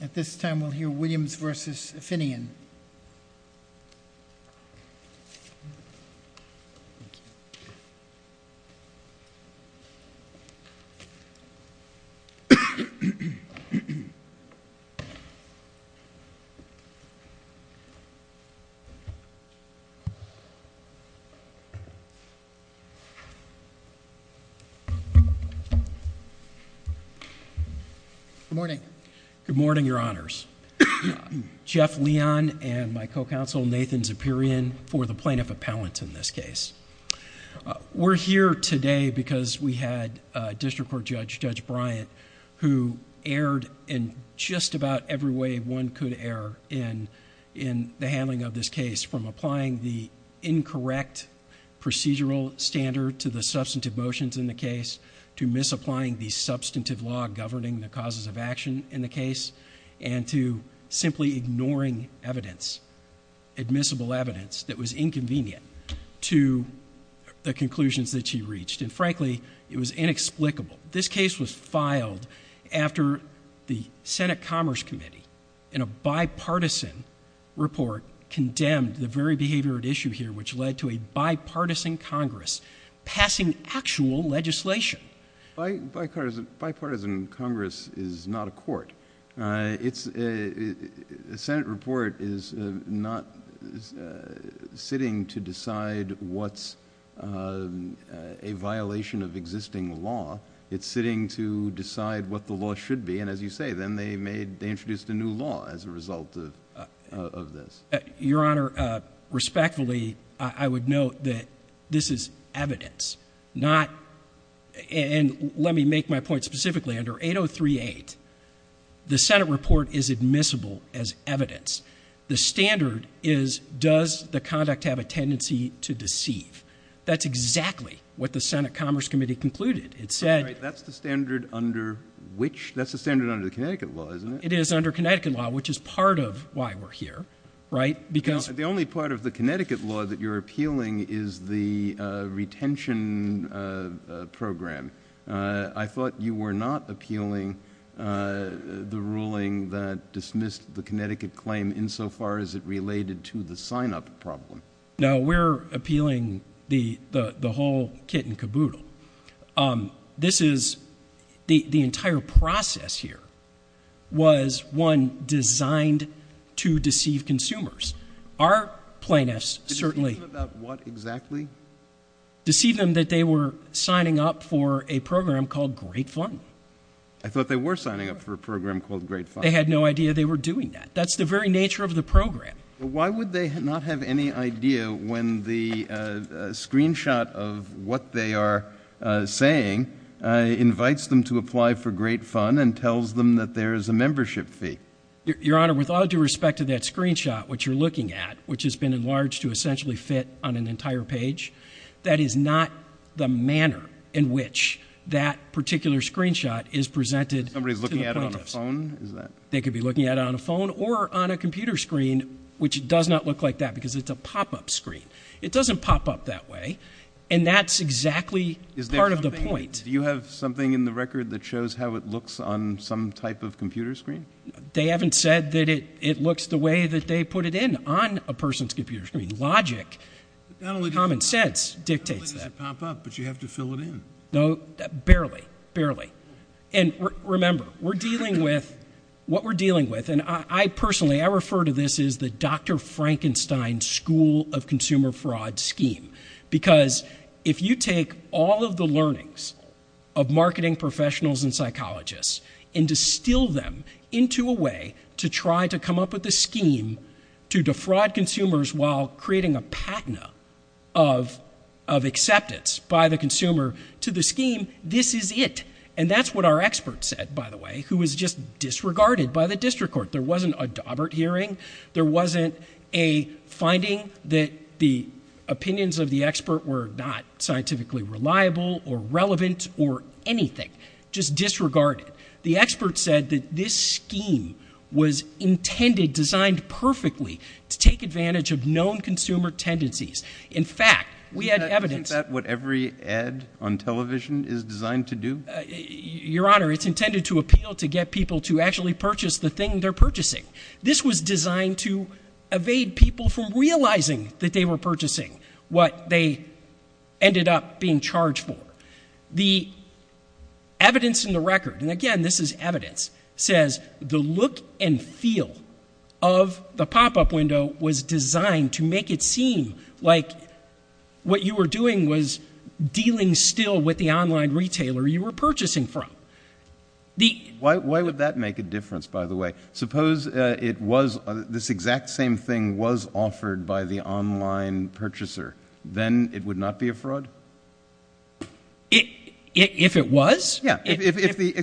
At this time, we'll hear Williams v. Finnegan. Good morning, your honors. Jeff Leon and my co-counsel, Nathan Zeperian, for the plaintiff appellant in this case. We're here today because we had district court judge, Judge Bryant, who erred in just about every way one could err in the handling of this case, from applying the incorrect procedural standard to the substantive motions in the case, to misapplying the substantive law governing the causes of action in the case, and to simply ignoring evidence, admissible evidence, that was inconvenient to the conclusions that she reached, and frankly, it was inexplicable. This case was filed after the Senate Commerce Committee, in a bipartisan report, condemned the very behavior at issue here, which led to a bipartisan Congress passing actual legislation. Bipartisan Congress is not a court. The Senate report is not sitting to decide what's a violation of existing law. It's sitting to decide what the law should be, and as you say, then they introduced a new law as a result of this. Your Honor, respectfully, I would note that this is evidence, not, and let me make my point specifically. Under 8038, the Senate report is admissible as evidence. The standard is, does the conduct have a tendency to deceive? That's exactly what the Senate Commerce Committee concluded. It said- That's the standard under which, that's the standard under the Connecticut law, isn't it? It is under Connecticut law, which is part of why we're here, right? Because- The only part of the Connecticut law that you're appealing is the retention program. I thought you were not appealing the ruling that dismissed the Connecticut claim insofar as it related to the sign up problem. No, we're appealing the whole kit and caboodle. This is, the entire process here was one designed to deceive consumers. Our plaintiffs certainly- Deceive them about what exactly? Deceive them that they were signing up for a program called Great Fund. I thought they were signing up for a program called Great Fund. They had no idea they were doing that. That's the very nature of the program. Why would they not have any idea when the screenshot of what they are saying, invites them to apply for Great Fund, and tells them that there is a membership fee? Your Honor, with all due respect to that screenshot, which you're looking at, which has been enlarged to essentially fit on an entire page, that is not the manner in which that particular screenshot is presented to the plaintiffs. Somebody's looking at it on a phone, is that? They could be looking at it on a phone or on a computer screen, which does not look like that because it's a pop-up screen. It doesn't pop up that way, and that's exactly part of the point. Do you have something in the record that shows how it looks on some type of computer screen? They haven't said that it looks the way that they put it in on a person's computer screen. Logic, common sense dictates that. Not only does it pop up, but you have to fill it in. No, barely, barely. And remember, we're dealing with what we're dealing with, and I personally, I refer to this as the Dr. Frankenstein School of Consumer Fraud scheme. Because if you take all of the learnings of marketing professionals and psychologists, and distill them into a way to try to come up with a scheme to defraud consumers while creating a patina of acceptance by the consumer to the scheme, this is it. And that's what our expert said, by the way, who was just disregarded by the district court. There wasn't a Daubert hearing. There wasn't a finding that the opinions of the expert were not scientifically reliable or relevant or anything. Just disregarded. The expert said that this scheme was intended, designed perfectly, to take advantage of known consumer tendencies. In fact, we had evidence. Isn't that what every ad on television is designed to do? Your Honor, it's intended to appeal to get people to actually purchase the thing they're purchasing. This was designed to evade people from realizing that they were purchasing what they ended up being charged for. The evidence in the record, and again, this is evidence, says the look and feel of the pop-up window was designed to make it seem like what you were doing was dealing still with the online retailer you were purchasing from. Why would that make a difference, by the way? Suppose this exact same thing was offered by the online purchaser, then it would not be a fraud? If it was? Yeah, excuse me,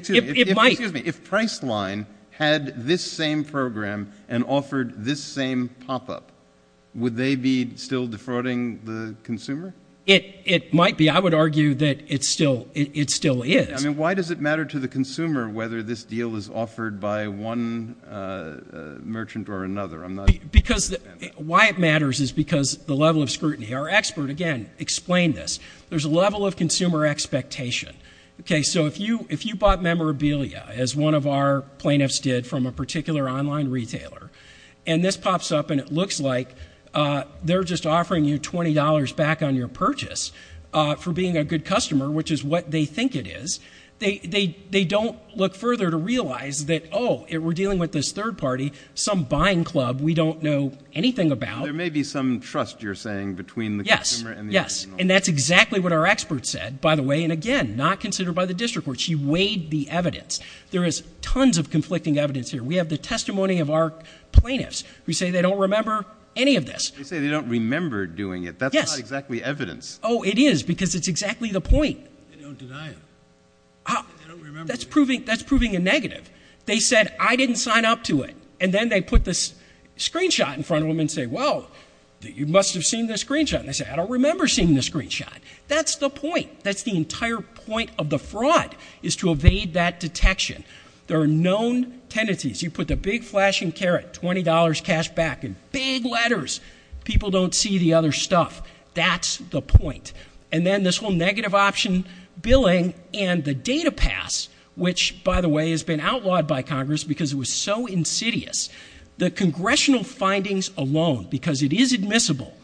if Priceline had this same program and offered this same pop-up, would they be still defrauding the consumer? It might be. I would argue that it still is. I mean, why does it matter to the consumer whether this deal is offered by one merchant or another? Because why it matters is because the level of scrutiny. Our expert, again, explained this. There's a level of consumer expectation. Okay, so if you bought memorabilia, as one of our plaintiffs did from a particular online retailer, and this pops up and it looks like they're just offering you $20 back on your purchase for being a good customer, which is what they think it is, they don't look further to realize that, oh, we're dealing with this third party, some buying club we don't know anything about. There may be some trust you're saying between the consumer and the original. Yes, and that's exactly what our expert said, by the way, and again, not considered by the district court. She weighed the evidence. There is tons of conflicting evidence here. We have the testimony of our plaintiffs who say they don't remember any of this. They say they don't remember doing it. That's not exactly evidence. It is, because it's exactly the point. They don't deny it. That's proving a negative. They said, I didn't sign up to it. And then they put this screenshot in front of them and say, well, you must have seen this screenshot. And they say, I don't remember seeing this screenshot. That's the point. That's the entire point of the fraud, is to evade that detection. There are known tendencies. You put the big flashing caret, $20 cash back, and big letters. People don't see the other stuff. That's the point. And then this whole negative option billing and the data pass, which, by the way, has been outlawed by Congress because it was so insidious. The congressional findings alone, because it is admissible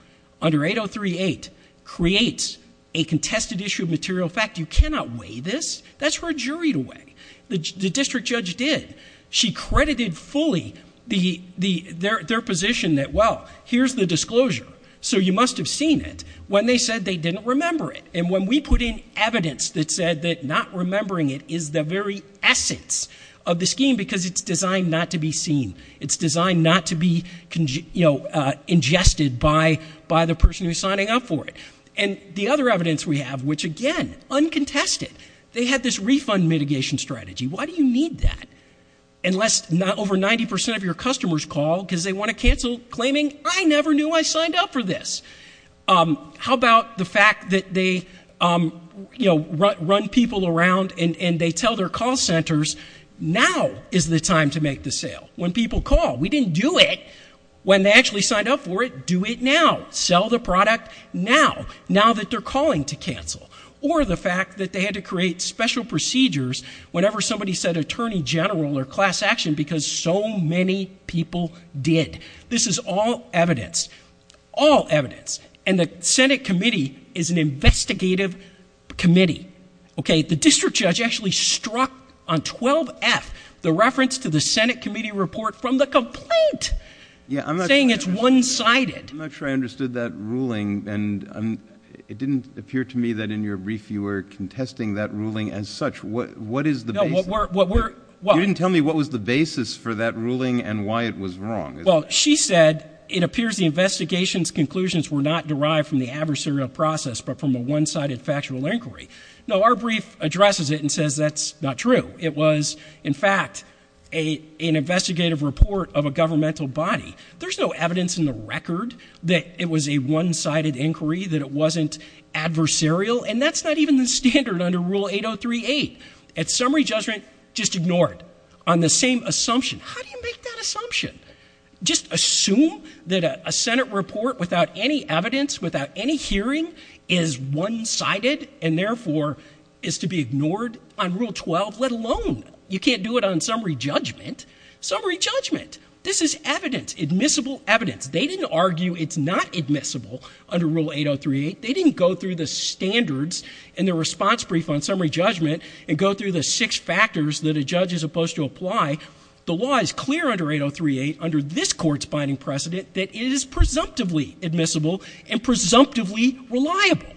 under 8038, creates a contested issue of material fact. You cannot weigh this. That's for a jury to weigh. The district judge did. She credited fully their position that, well, here's the disclosure. So you must have seen it, when they said they didn't remember it. And when we put in evidence that said that not remembering it is the very essence of the scheme, because it's designed not to be seen, it's designed not to be ingested by the person who's signing up for it. And the other evidence we have, which again, uncontested. They had this refund mitigation strategy. Why do you need that? Unless over 90% of your customers call because they want to cancel, claiming, I never knew I signed up for this. How about the fact that they run people around and they tell their call centers, now is the time to make the sale. When people call, we didn't do it. When they actually signed up for it, do it now. Sell the product now, now that they're calling to cancel. Or the fact that they had to create special procedures whenever somebody said attorney general or class action, because so many people did. This is all evidence, all evidence. And the Senate committee is an investigative committee. Okay, the district judge actually struck on 12F, the reference to the Senate committee report from the complaint, saying it's one-sided. I'm not sure I understood that ruling, and it didn't appear to me that in your brief you were contesting that ruling as such. What is the basis? You didn't tell me what was the basis for that ruling and why it was wrong. Well, she said, it appears the investigation's conclusions were not derived from the adversarial process, but from a one-sided factual inquiry. No, our brief addresses it and says that's not true. It was, in fact, an investigative report of a governmental body. There's no evidence in the record that it was a one-sided inquiry, that it wasn't adversarial. And that's not even the standard under Rule 8038. It's summary judgment just ignored on the same assumption. How do you make that assumption? Just assume that a Senate report without any evidence, without any hearing, is one-sided and therefore is to be ignored on Rule 12, let alone. You can't do it on summary judgment. Summary judgment, this is evidence, admissible evidence. They didn't argue it's not admissible under Rule 8038. They didn't go through the standards in the response brief on summary judgment and go through the six factors that a judge is supposed to apply. The law is clear under 8038, under this court's binding precedent, that it is presumptively admissible and presumptively reliable.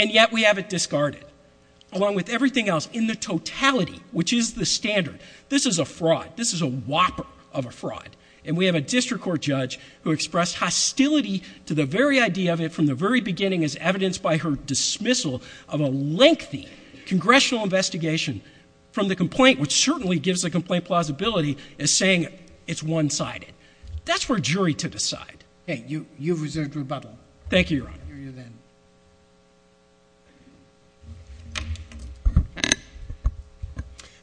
And yet we have it discarded, along with everything else in the totality, which is the standard. This is a fraud. This is a whopper of a fraud. And we have a district court judge who expressed hostility to the very idea of it from the very beginning, as evidenced by her dismissal of a lengthy congressional investigation from the complaint, which certainly gives the complaint plausibility, as saying it's one-sided. That's for a jury to decide. Okay, you've reserved rebuttal. Thank you, Your Honor. I'll hear you then.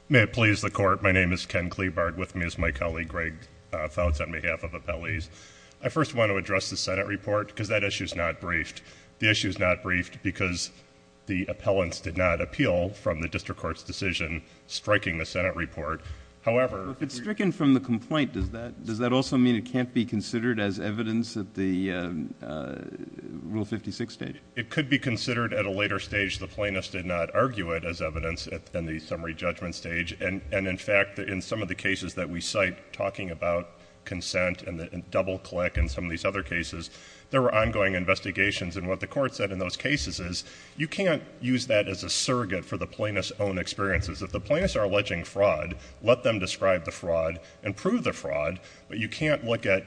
May it please the court. My name is Ken Cleabard. With me is my colleague, Greg Fouts, on behalf of appellees. I first want to address the Senate report, because that issue's not briefed. The issue's not briefed because the appellants did not appeal from the district court's decision striking the Senate report. However- If it's stricken from the complaint, does that also mean it can't be considered as evidence at the Rule 56 stage? It could be considered at a later stage. The plaintiffs did not argue it as evidence in the summary judgment stage. And in fact, in some of the cases that we cite, talking about consent and double click and some of these other cases, there were ongoing investigations. And what the court said in those cases is, you can't use that as a surrogate for the plaintiff's own experiences. If the plaintiffs are alleging fraud, let them describe the fraud and prove the fraud. But you can't look at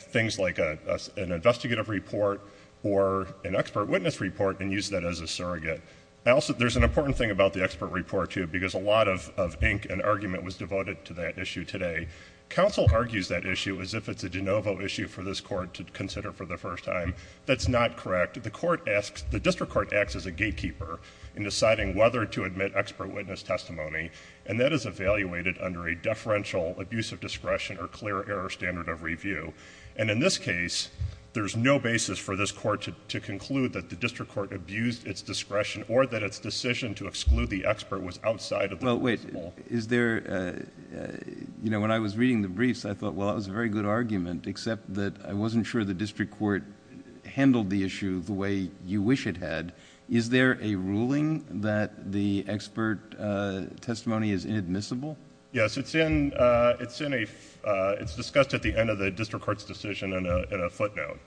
things like an investigative report or an expert witness report and use that as a surrogate. There's an important thing about the expert report, too, because a lot of ink and argument was devoted to that issue today. Council argues that issue as if it's a de novo issue for this court to consider for the first time. That's not correct. The district court acts as a gatekeeper in deciding whether to admit expert witness testimony. And that is evaluated under a deferential abuse of discretion or clear error standard of review. And in this case, there's no basis for this court to conclude that the district court abused its discretion or that its decision to exclude the expert was outside of the principle. Is there, when I was reading the briefs, I thought, well, that was a very good argument, except that I wasn't sure the district court handled the issue the way you wish it had. Is there a ruling that the expert testimony is inadmissible? Yes, it's discussed at the end of the district court's decision in a footnote.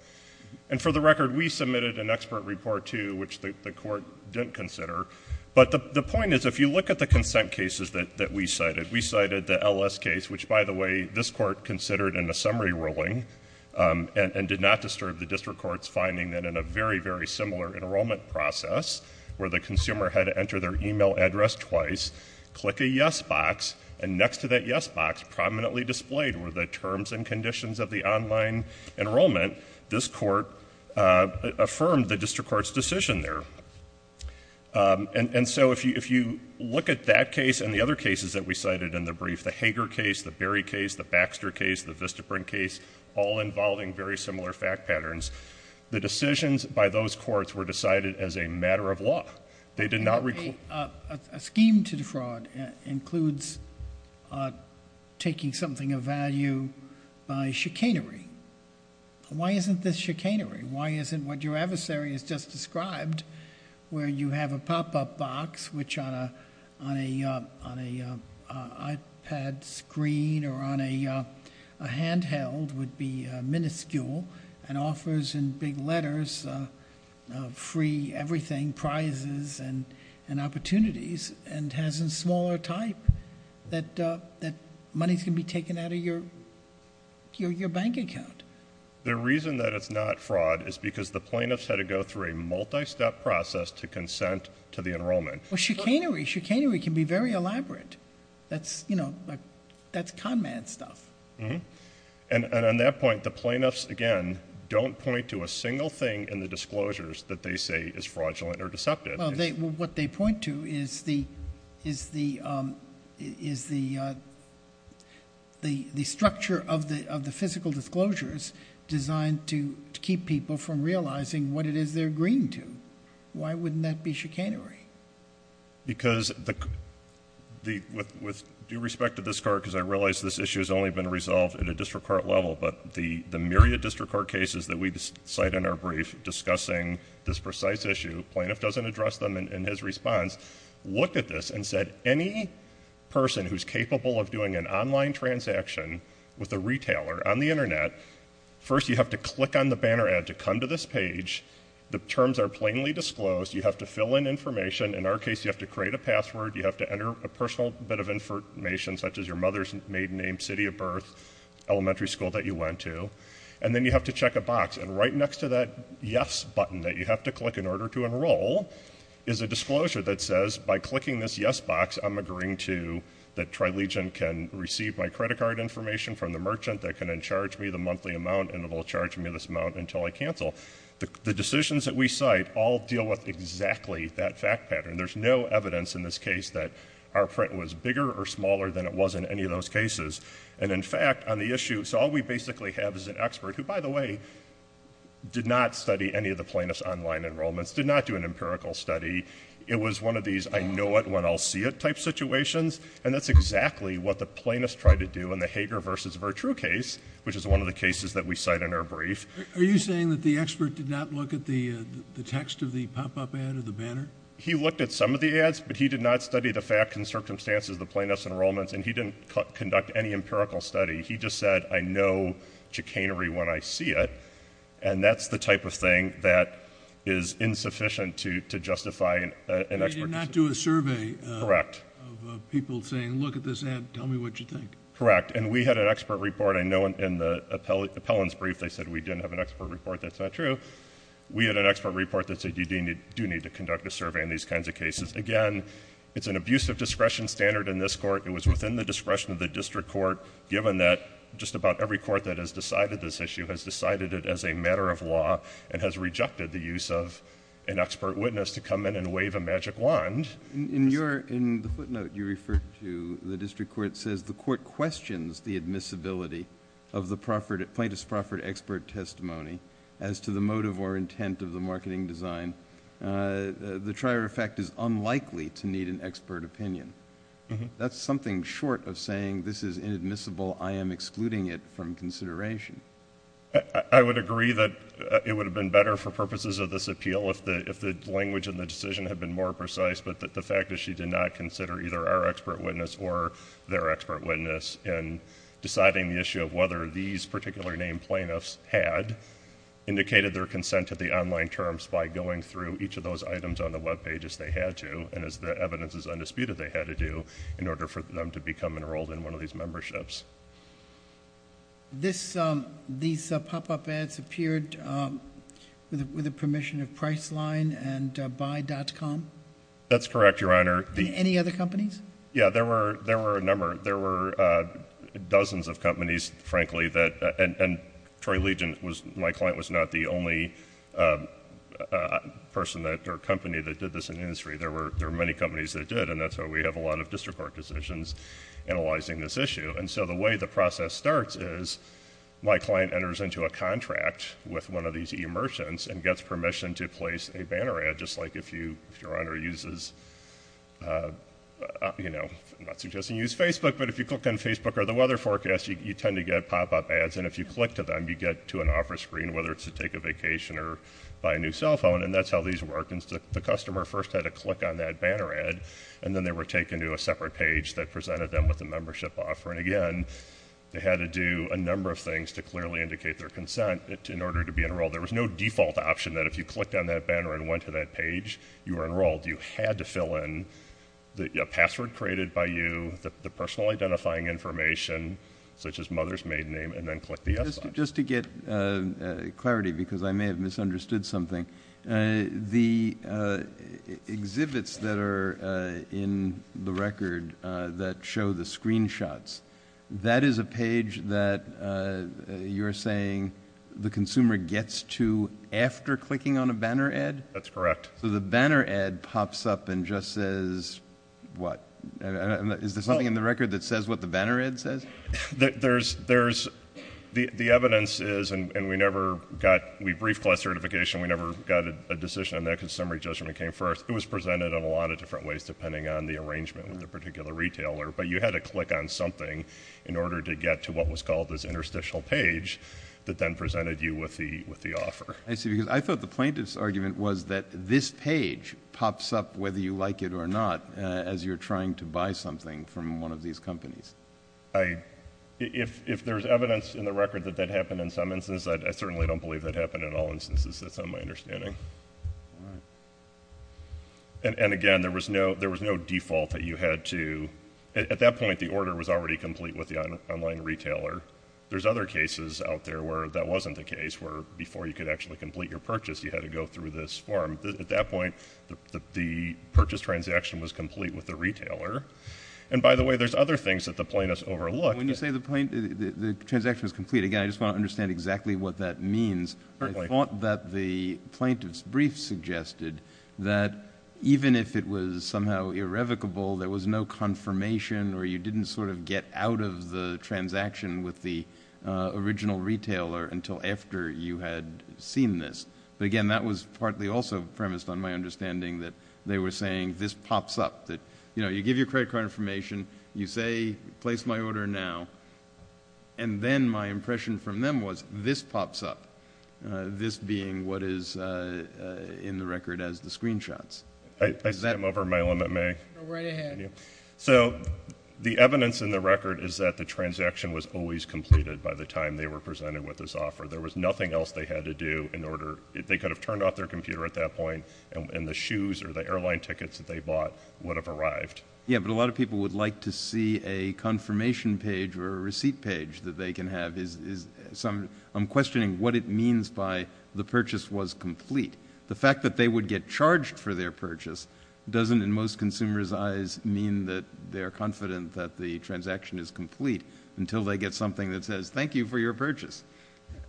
And for the record, we submitted an expert report, too, which the court didn't consider. But the point is, if you look at the consent cases that we cited, we cited the LS case, which, by the way, this court considered in a summary ruling and did not disturb the district court's finding that in a very, very similar enrollment process, where the consumer had to enter their email address twice, click a yes box, and next to that yes box, prominently displayed were the terms and conditions of the online enrollment, this court affirmed the district court's decision there. And so if you look at that case and the other cases that we cited in the brief, the Hager case, the Berry case, the Baxter case, the Vistaprint case, all involving very similar fact patterns. The decisions by those courts were decided as a matter of law. They did not- A scheme to defraud includes taking something of value by chicanery. Why isn't this chicanery? Why isn't what your adversary has just described, where you have a pop-up box, which on a iPad screen or on a handheld would be minuscule, and offers in big letters free everything, prizes and opportunities, and has a smaller type. That money's going to be taken out of your bank account. The reason that it's not fraud is because the plaintiffs had to go through a multi-step process to consent to the enrollment. Well chicanery, chicanery can be very elaborate. That's, you know, that's con man stuff. And on that point, the plaintiffs, again, don't point to a single thing in the disclosures that they say is fraudulent or deceptive. Well, what they point to is the structure of the physical disclosures designed to keep people from realizing what it is they're agreeing to. Why wouldn't that be chicanery? Because with due respect to this court, because I realize this issue has only been resolved at a district court level, but the myriad district court cases that we cite in our brief discussing this precise issue, plaintiff doesn't address them in his response, looked at this and said, any person who's capable of doing an online transaction with a retailer on the Internet, first you have to click on the banner ad to come to this page, the terms are plainly disclosed, you have to fill in information, in our case you have to create a password, you have to enter a personal bit of information, such as your mother's maiden name, city of birth, elementary school that you went to, and then you have to check a box. And right next to that yes button that you have to click in order to enroll is a disclosure that says, by clicking this yes box, I'm agreeing to, that Trilegion can receive my credit card information from the merchant, that can then charge me the monthly amount, and it will charge me this amount until I cancel. The decisions that we cite all deal with exactly that fact pattern. There's no evidence in this case that our print was bigger or smaller than it was in any of those cases. And in fact, on the issue, so all we basically have is an expert, who by the way, did not study any of the plaintiff's online enrollments, did not do an empirical study. It was one of these I know it when I'll see it type situations, and that's exactly what the plaintiff tried to do in the Hager versus Vertru case, which is one of the cases that we cite in our brief. Are you saying that the expert did not look at the text of the pop-up ad or the banner? He looked at some of the ads, but he did not study the facts and circumstances of the plaintiff's enrollments, and he didn't conduct any empirical study. He just said, I know chicanery when I see it, and that's the type of thing that is insufficient to justify an expert. He did not do a survey. Correct. Of people saying, look at this ad, tell me what you think. Correct, and we had an expert report. I know in the appellant's brief they said we didn't have an expert report, that's not true. We had an expert report that said you do need to conduct a survey in these kinds of cases. Again, it's an abuse of discretion standard in this court. It was within the discretion of the district court, given that just about every court that has decided this issue has decided it as a matter of law and has rejected the use of an expert witness to come in and wave a magic wand. In the footnote you referred to, the district court says the court questions the admissibility of the plaintiff's proffered expert testimony as to the motive or intent of the marketing design. The trier effect is unlikely to need an expert opinion. That's something short of saying this is inadmissible, I am excluding it from consideration. I would agree that it would have been better for purposes of this appeal if the language and the decision had been more precise, but that the fact that she did not consider either our expert witness or their expert witness in deciding the issue of whether these particular named plaintiffs had indicated their consent to the online terms by going through each of those items on the web pages they had to, and as the evidence is undisputed, they had to do in order for them to become enrolled in one of these memberships. These pop up ads appeared with the permission of Priceline and Buy.com? That's correct, your honor. Any other companies? Yeah, there were a number. There were dozens of companies, frankly, and Troy Legion, my client, was not the only person or company that did this in the industry. There were many companies that did, and that's why we have a lot of district court decisions analyzing this issue. And so the way the process starts is my client enters into a contract with one of these e-merchants and gets permission to place a banner ad just like if your honor uses, I'm not suggesting you use Facebook, but if you click on Facebook or the weather forecast, you tend to get pop up ads, and if you click to them, you get to an offer screen, whether it's to take a vacation or buy a new cell phone, and that's how these work. And the customer first had to click on that banner ad, and then they were taken to a separate page that presented them with a membership offer. And again, they had to do a number of things to clearly indicate their consent in order to be enrolled. There was no default option that if you clicked on that banner and went to that page, you were enrolled. You had to fill in the password created by you, the personal identifying information, such as mother's maiden name, and then click the yes button. Just to get clarity, because I may have misunderstood something, the exhibits that are in the record that show the screenshots, that is a page that you're saying the consumer gets to after clicking on a banner ad? That's correct. So the banner ad pops up and just says, what? Is there something in the record that says what the banner ad says? The evidence is, and we never got, we briefed class certification, we never got a decision on that because summary judgment came first. It was presented in a lot of different ways depending on the arrangement with the particular retailer. But you had to click on something in order to get to what was called this interstitial page that then presented you with the offer. I see, because I thought the plaintiff's argument was that this page pops up whether you like it or not as you're trying to buy something from one of these companies. If there's evidence in the record that that happened in some instances, I certainly don't believe that happened in all instances, that's not my understanding. And again, there was no default that you had to, at that point, the order was already complete with the online retailer. There's other cases out there where that wasn't the case, where before you could actually complete your purchase, you had to go through this form. At that point, the purchase transaction was complete with the retailer. And by the way, there's other things that the plaintiffs overlooked. When you say the transaction was complete, again, I just want to understand exactly what that means. I thought that the plaintiff's brief suggested that even if it was somehow irrevocable, there was no confirmation or you didn't sort of get out of the transaction with the original retailer until after you had seen this. But again, that was partly also premised on my understanding that they were saying this pops up. You give your credit card information, you say, place my order now, and then my impression from them was, this pops up. This being what is in the record as the screenshots. Is that- I'm over my limit, may I? Go right ahead. So, the evidence in the record is that the transaction was always completed by the time they were presented with this offer. There was nothing else they had to do in order, if they could have turned off their computer at that point, and then the shoes or the airline tickets that they bought would have arrived. Yeah, but a lot of people would like to see a confirmation page or a receipt page that they can have. I'm questioning what it means by the purchase was complete. The fact that they would get charged for their purchase doesn't, in most consumers' eyes, mean that they're confident that the transaction is complete until they get something that says, thank you for your purchase.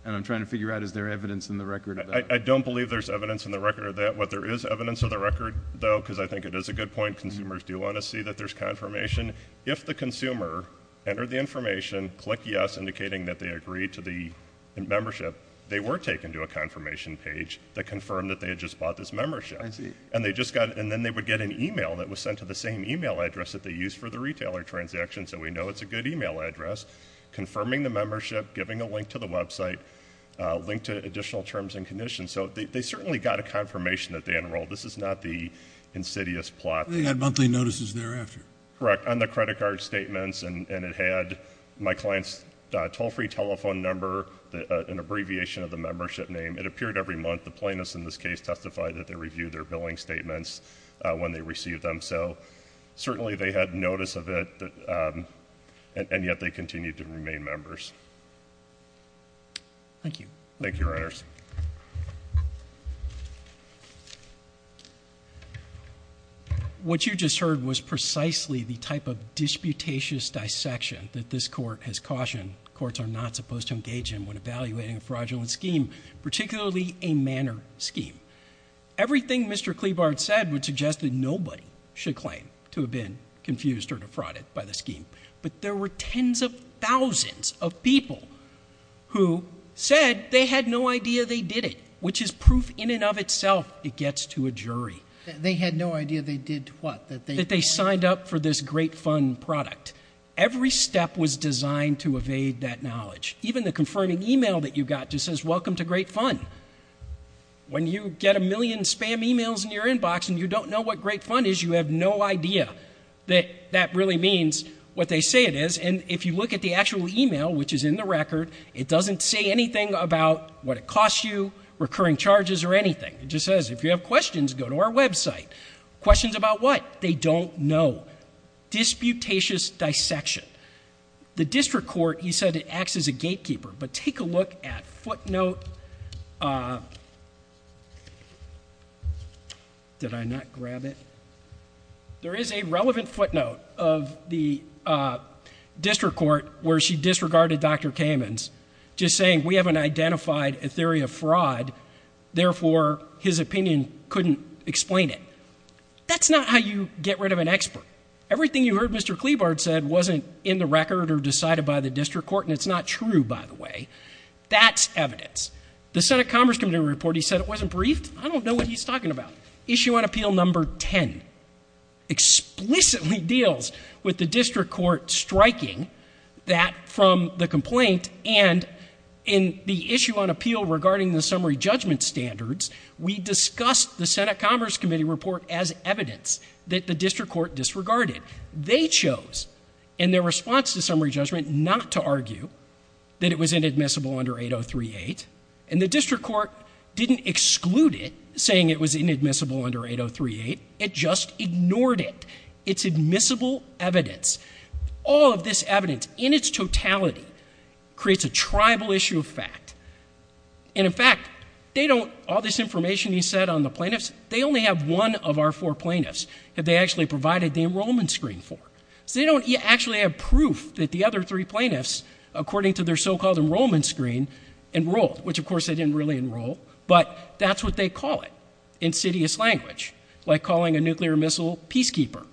And I'm trying to figure out, is there evidence in the record of that? I don't believe there's evidence in the record of that. What there is evidence of the record, though, because I think it is a good point, consumers do want to see that there's confirmation. If the consumer entered the information, click yes, indicating that they agreed to the membership, they were taken to a confirmation page that confirmed that they had just bought this membership. I see. And then they would get an email that was sent to the same email address that they used for the retailer transaction, so we know it's a good email address. Confirming the membership, giving a link to the website, link to additional terms and conditions. So they certainly got a confirmation that they enrolled. This is not the insidious plot. They had monthly notices thereafter. Correct, on the credit card statements, and it had my client's toll-free telephone number, an abbreviation of the membership name. It appeared every month. The plaintiffs in this case testified that they reviewed their billing statements when they received them. So certainly they had notice of it, and yet they continued to remain members. Thank you. Thank you, Reynolds. What you just heard was precisely the type of disputatious dissection that this court has cautioned courts are not supposed to engage in when evaluating a fraudulent scheme, particularly a manner scheme. Everything Mr. Cleabart said would suggest that nobody should claim to have been confused or defrauded by the scheme. But there were tens of thousands of people who said they had no idea they did it, which is proof in and of itself it gets to a jury. They had no idea they did what? That they signed up for this Great Fun product. Every step was designed to evade that knowledge. Even the confirming email that you got just says, welcome to Great Fun. When you get a million spam emails in your inbox and you don't know what Great Fun is, you have no idea that that really means what they say it is. And if you look at the actual email, which is in the record, it doesn't say anything about what it costs you, recurring charges, or anything. It just says, if you have questions, go to our website. Questions about what? They don't know. Disputatious dissection. The district court, he said it acts as a gatekeeper. But take a look at footnote, did I not grab it? There is a relevant footnote of the district court where she disregarded Dr. Kamens just saying we haven't identified a theory of fraud, therefore his opinion couldn't explain it. That's not how you get rid of an expert. Everything you heard Mr. Cleabart said wasn't in the record or decided by the district court, and it's not true, by the way. That's evidence. The Senate Commerce Committee report, he said it wasn't briefed. I don't know what he's talking about. Issue on appeal number ten explicitly deals with the district court striking that from the complaint. And in the issue on appeal regarding the summary judgment standards, we discussed the Senate Commerce Committee report as evidence that the district court disregarded. They chose, in their response to summary judgment, not to argue that it was inadmissible under 8038. And the district court didn't exclude it, saying it was inadmissible under 8038, it just ignored it. It's admissible evidence. All of this evidence, in its totality, creates a tribal issue of fact. And in fact, all this information he said on the plaintiffs, they only have one of our four plaintiffs that they actually provided the enrollment screen for. So they don't actually have proof that the other three plaintiffs, according to their so-called enrollment screen, enrolled. Which of course, they didn't really enroll. But that's what they call it, insidious language, like calling a nuclear missile peacekeeper.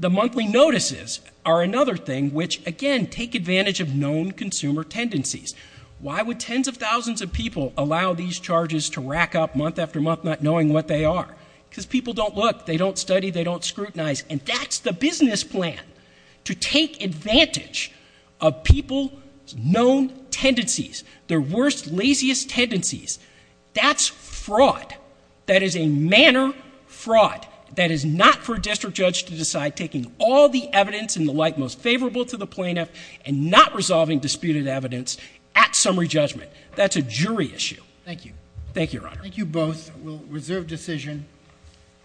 The monthly notices are another thing which, again, take advantage of known consumer tendencies. Why would tens of thousands of people allow these charges to rack up month after month not knowing what they are? because people don't look, they don't study, they don't scrutinize. And that's the business plan, to take advantage of people's known tendencies. Their worst, laziest tendencies. That's fraud. That is a manner fraud. That is not for a district judge to decide, taking all the evidence and the like most favorable to the plaintiff. And not resolving disputed evidence at summary judgment. That's a jury issue. Thank you. Thank you, Your Honor. Thank you both. We'll reserve decision.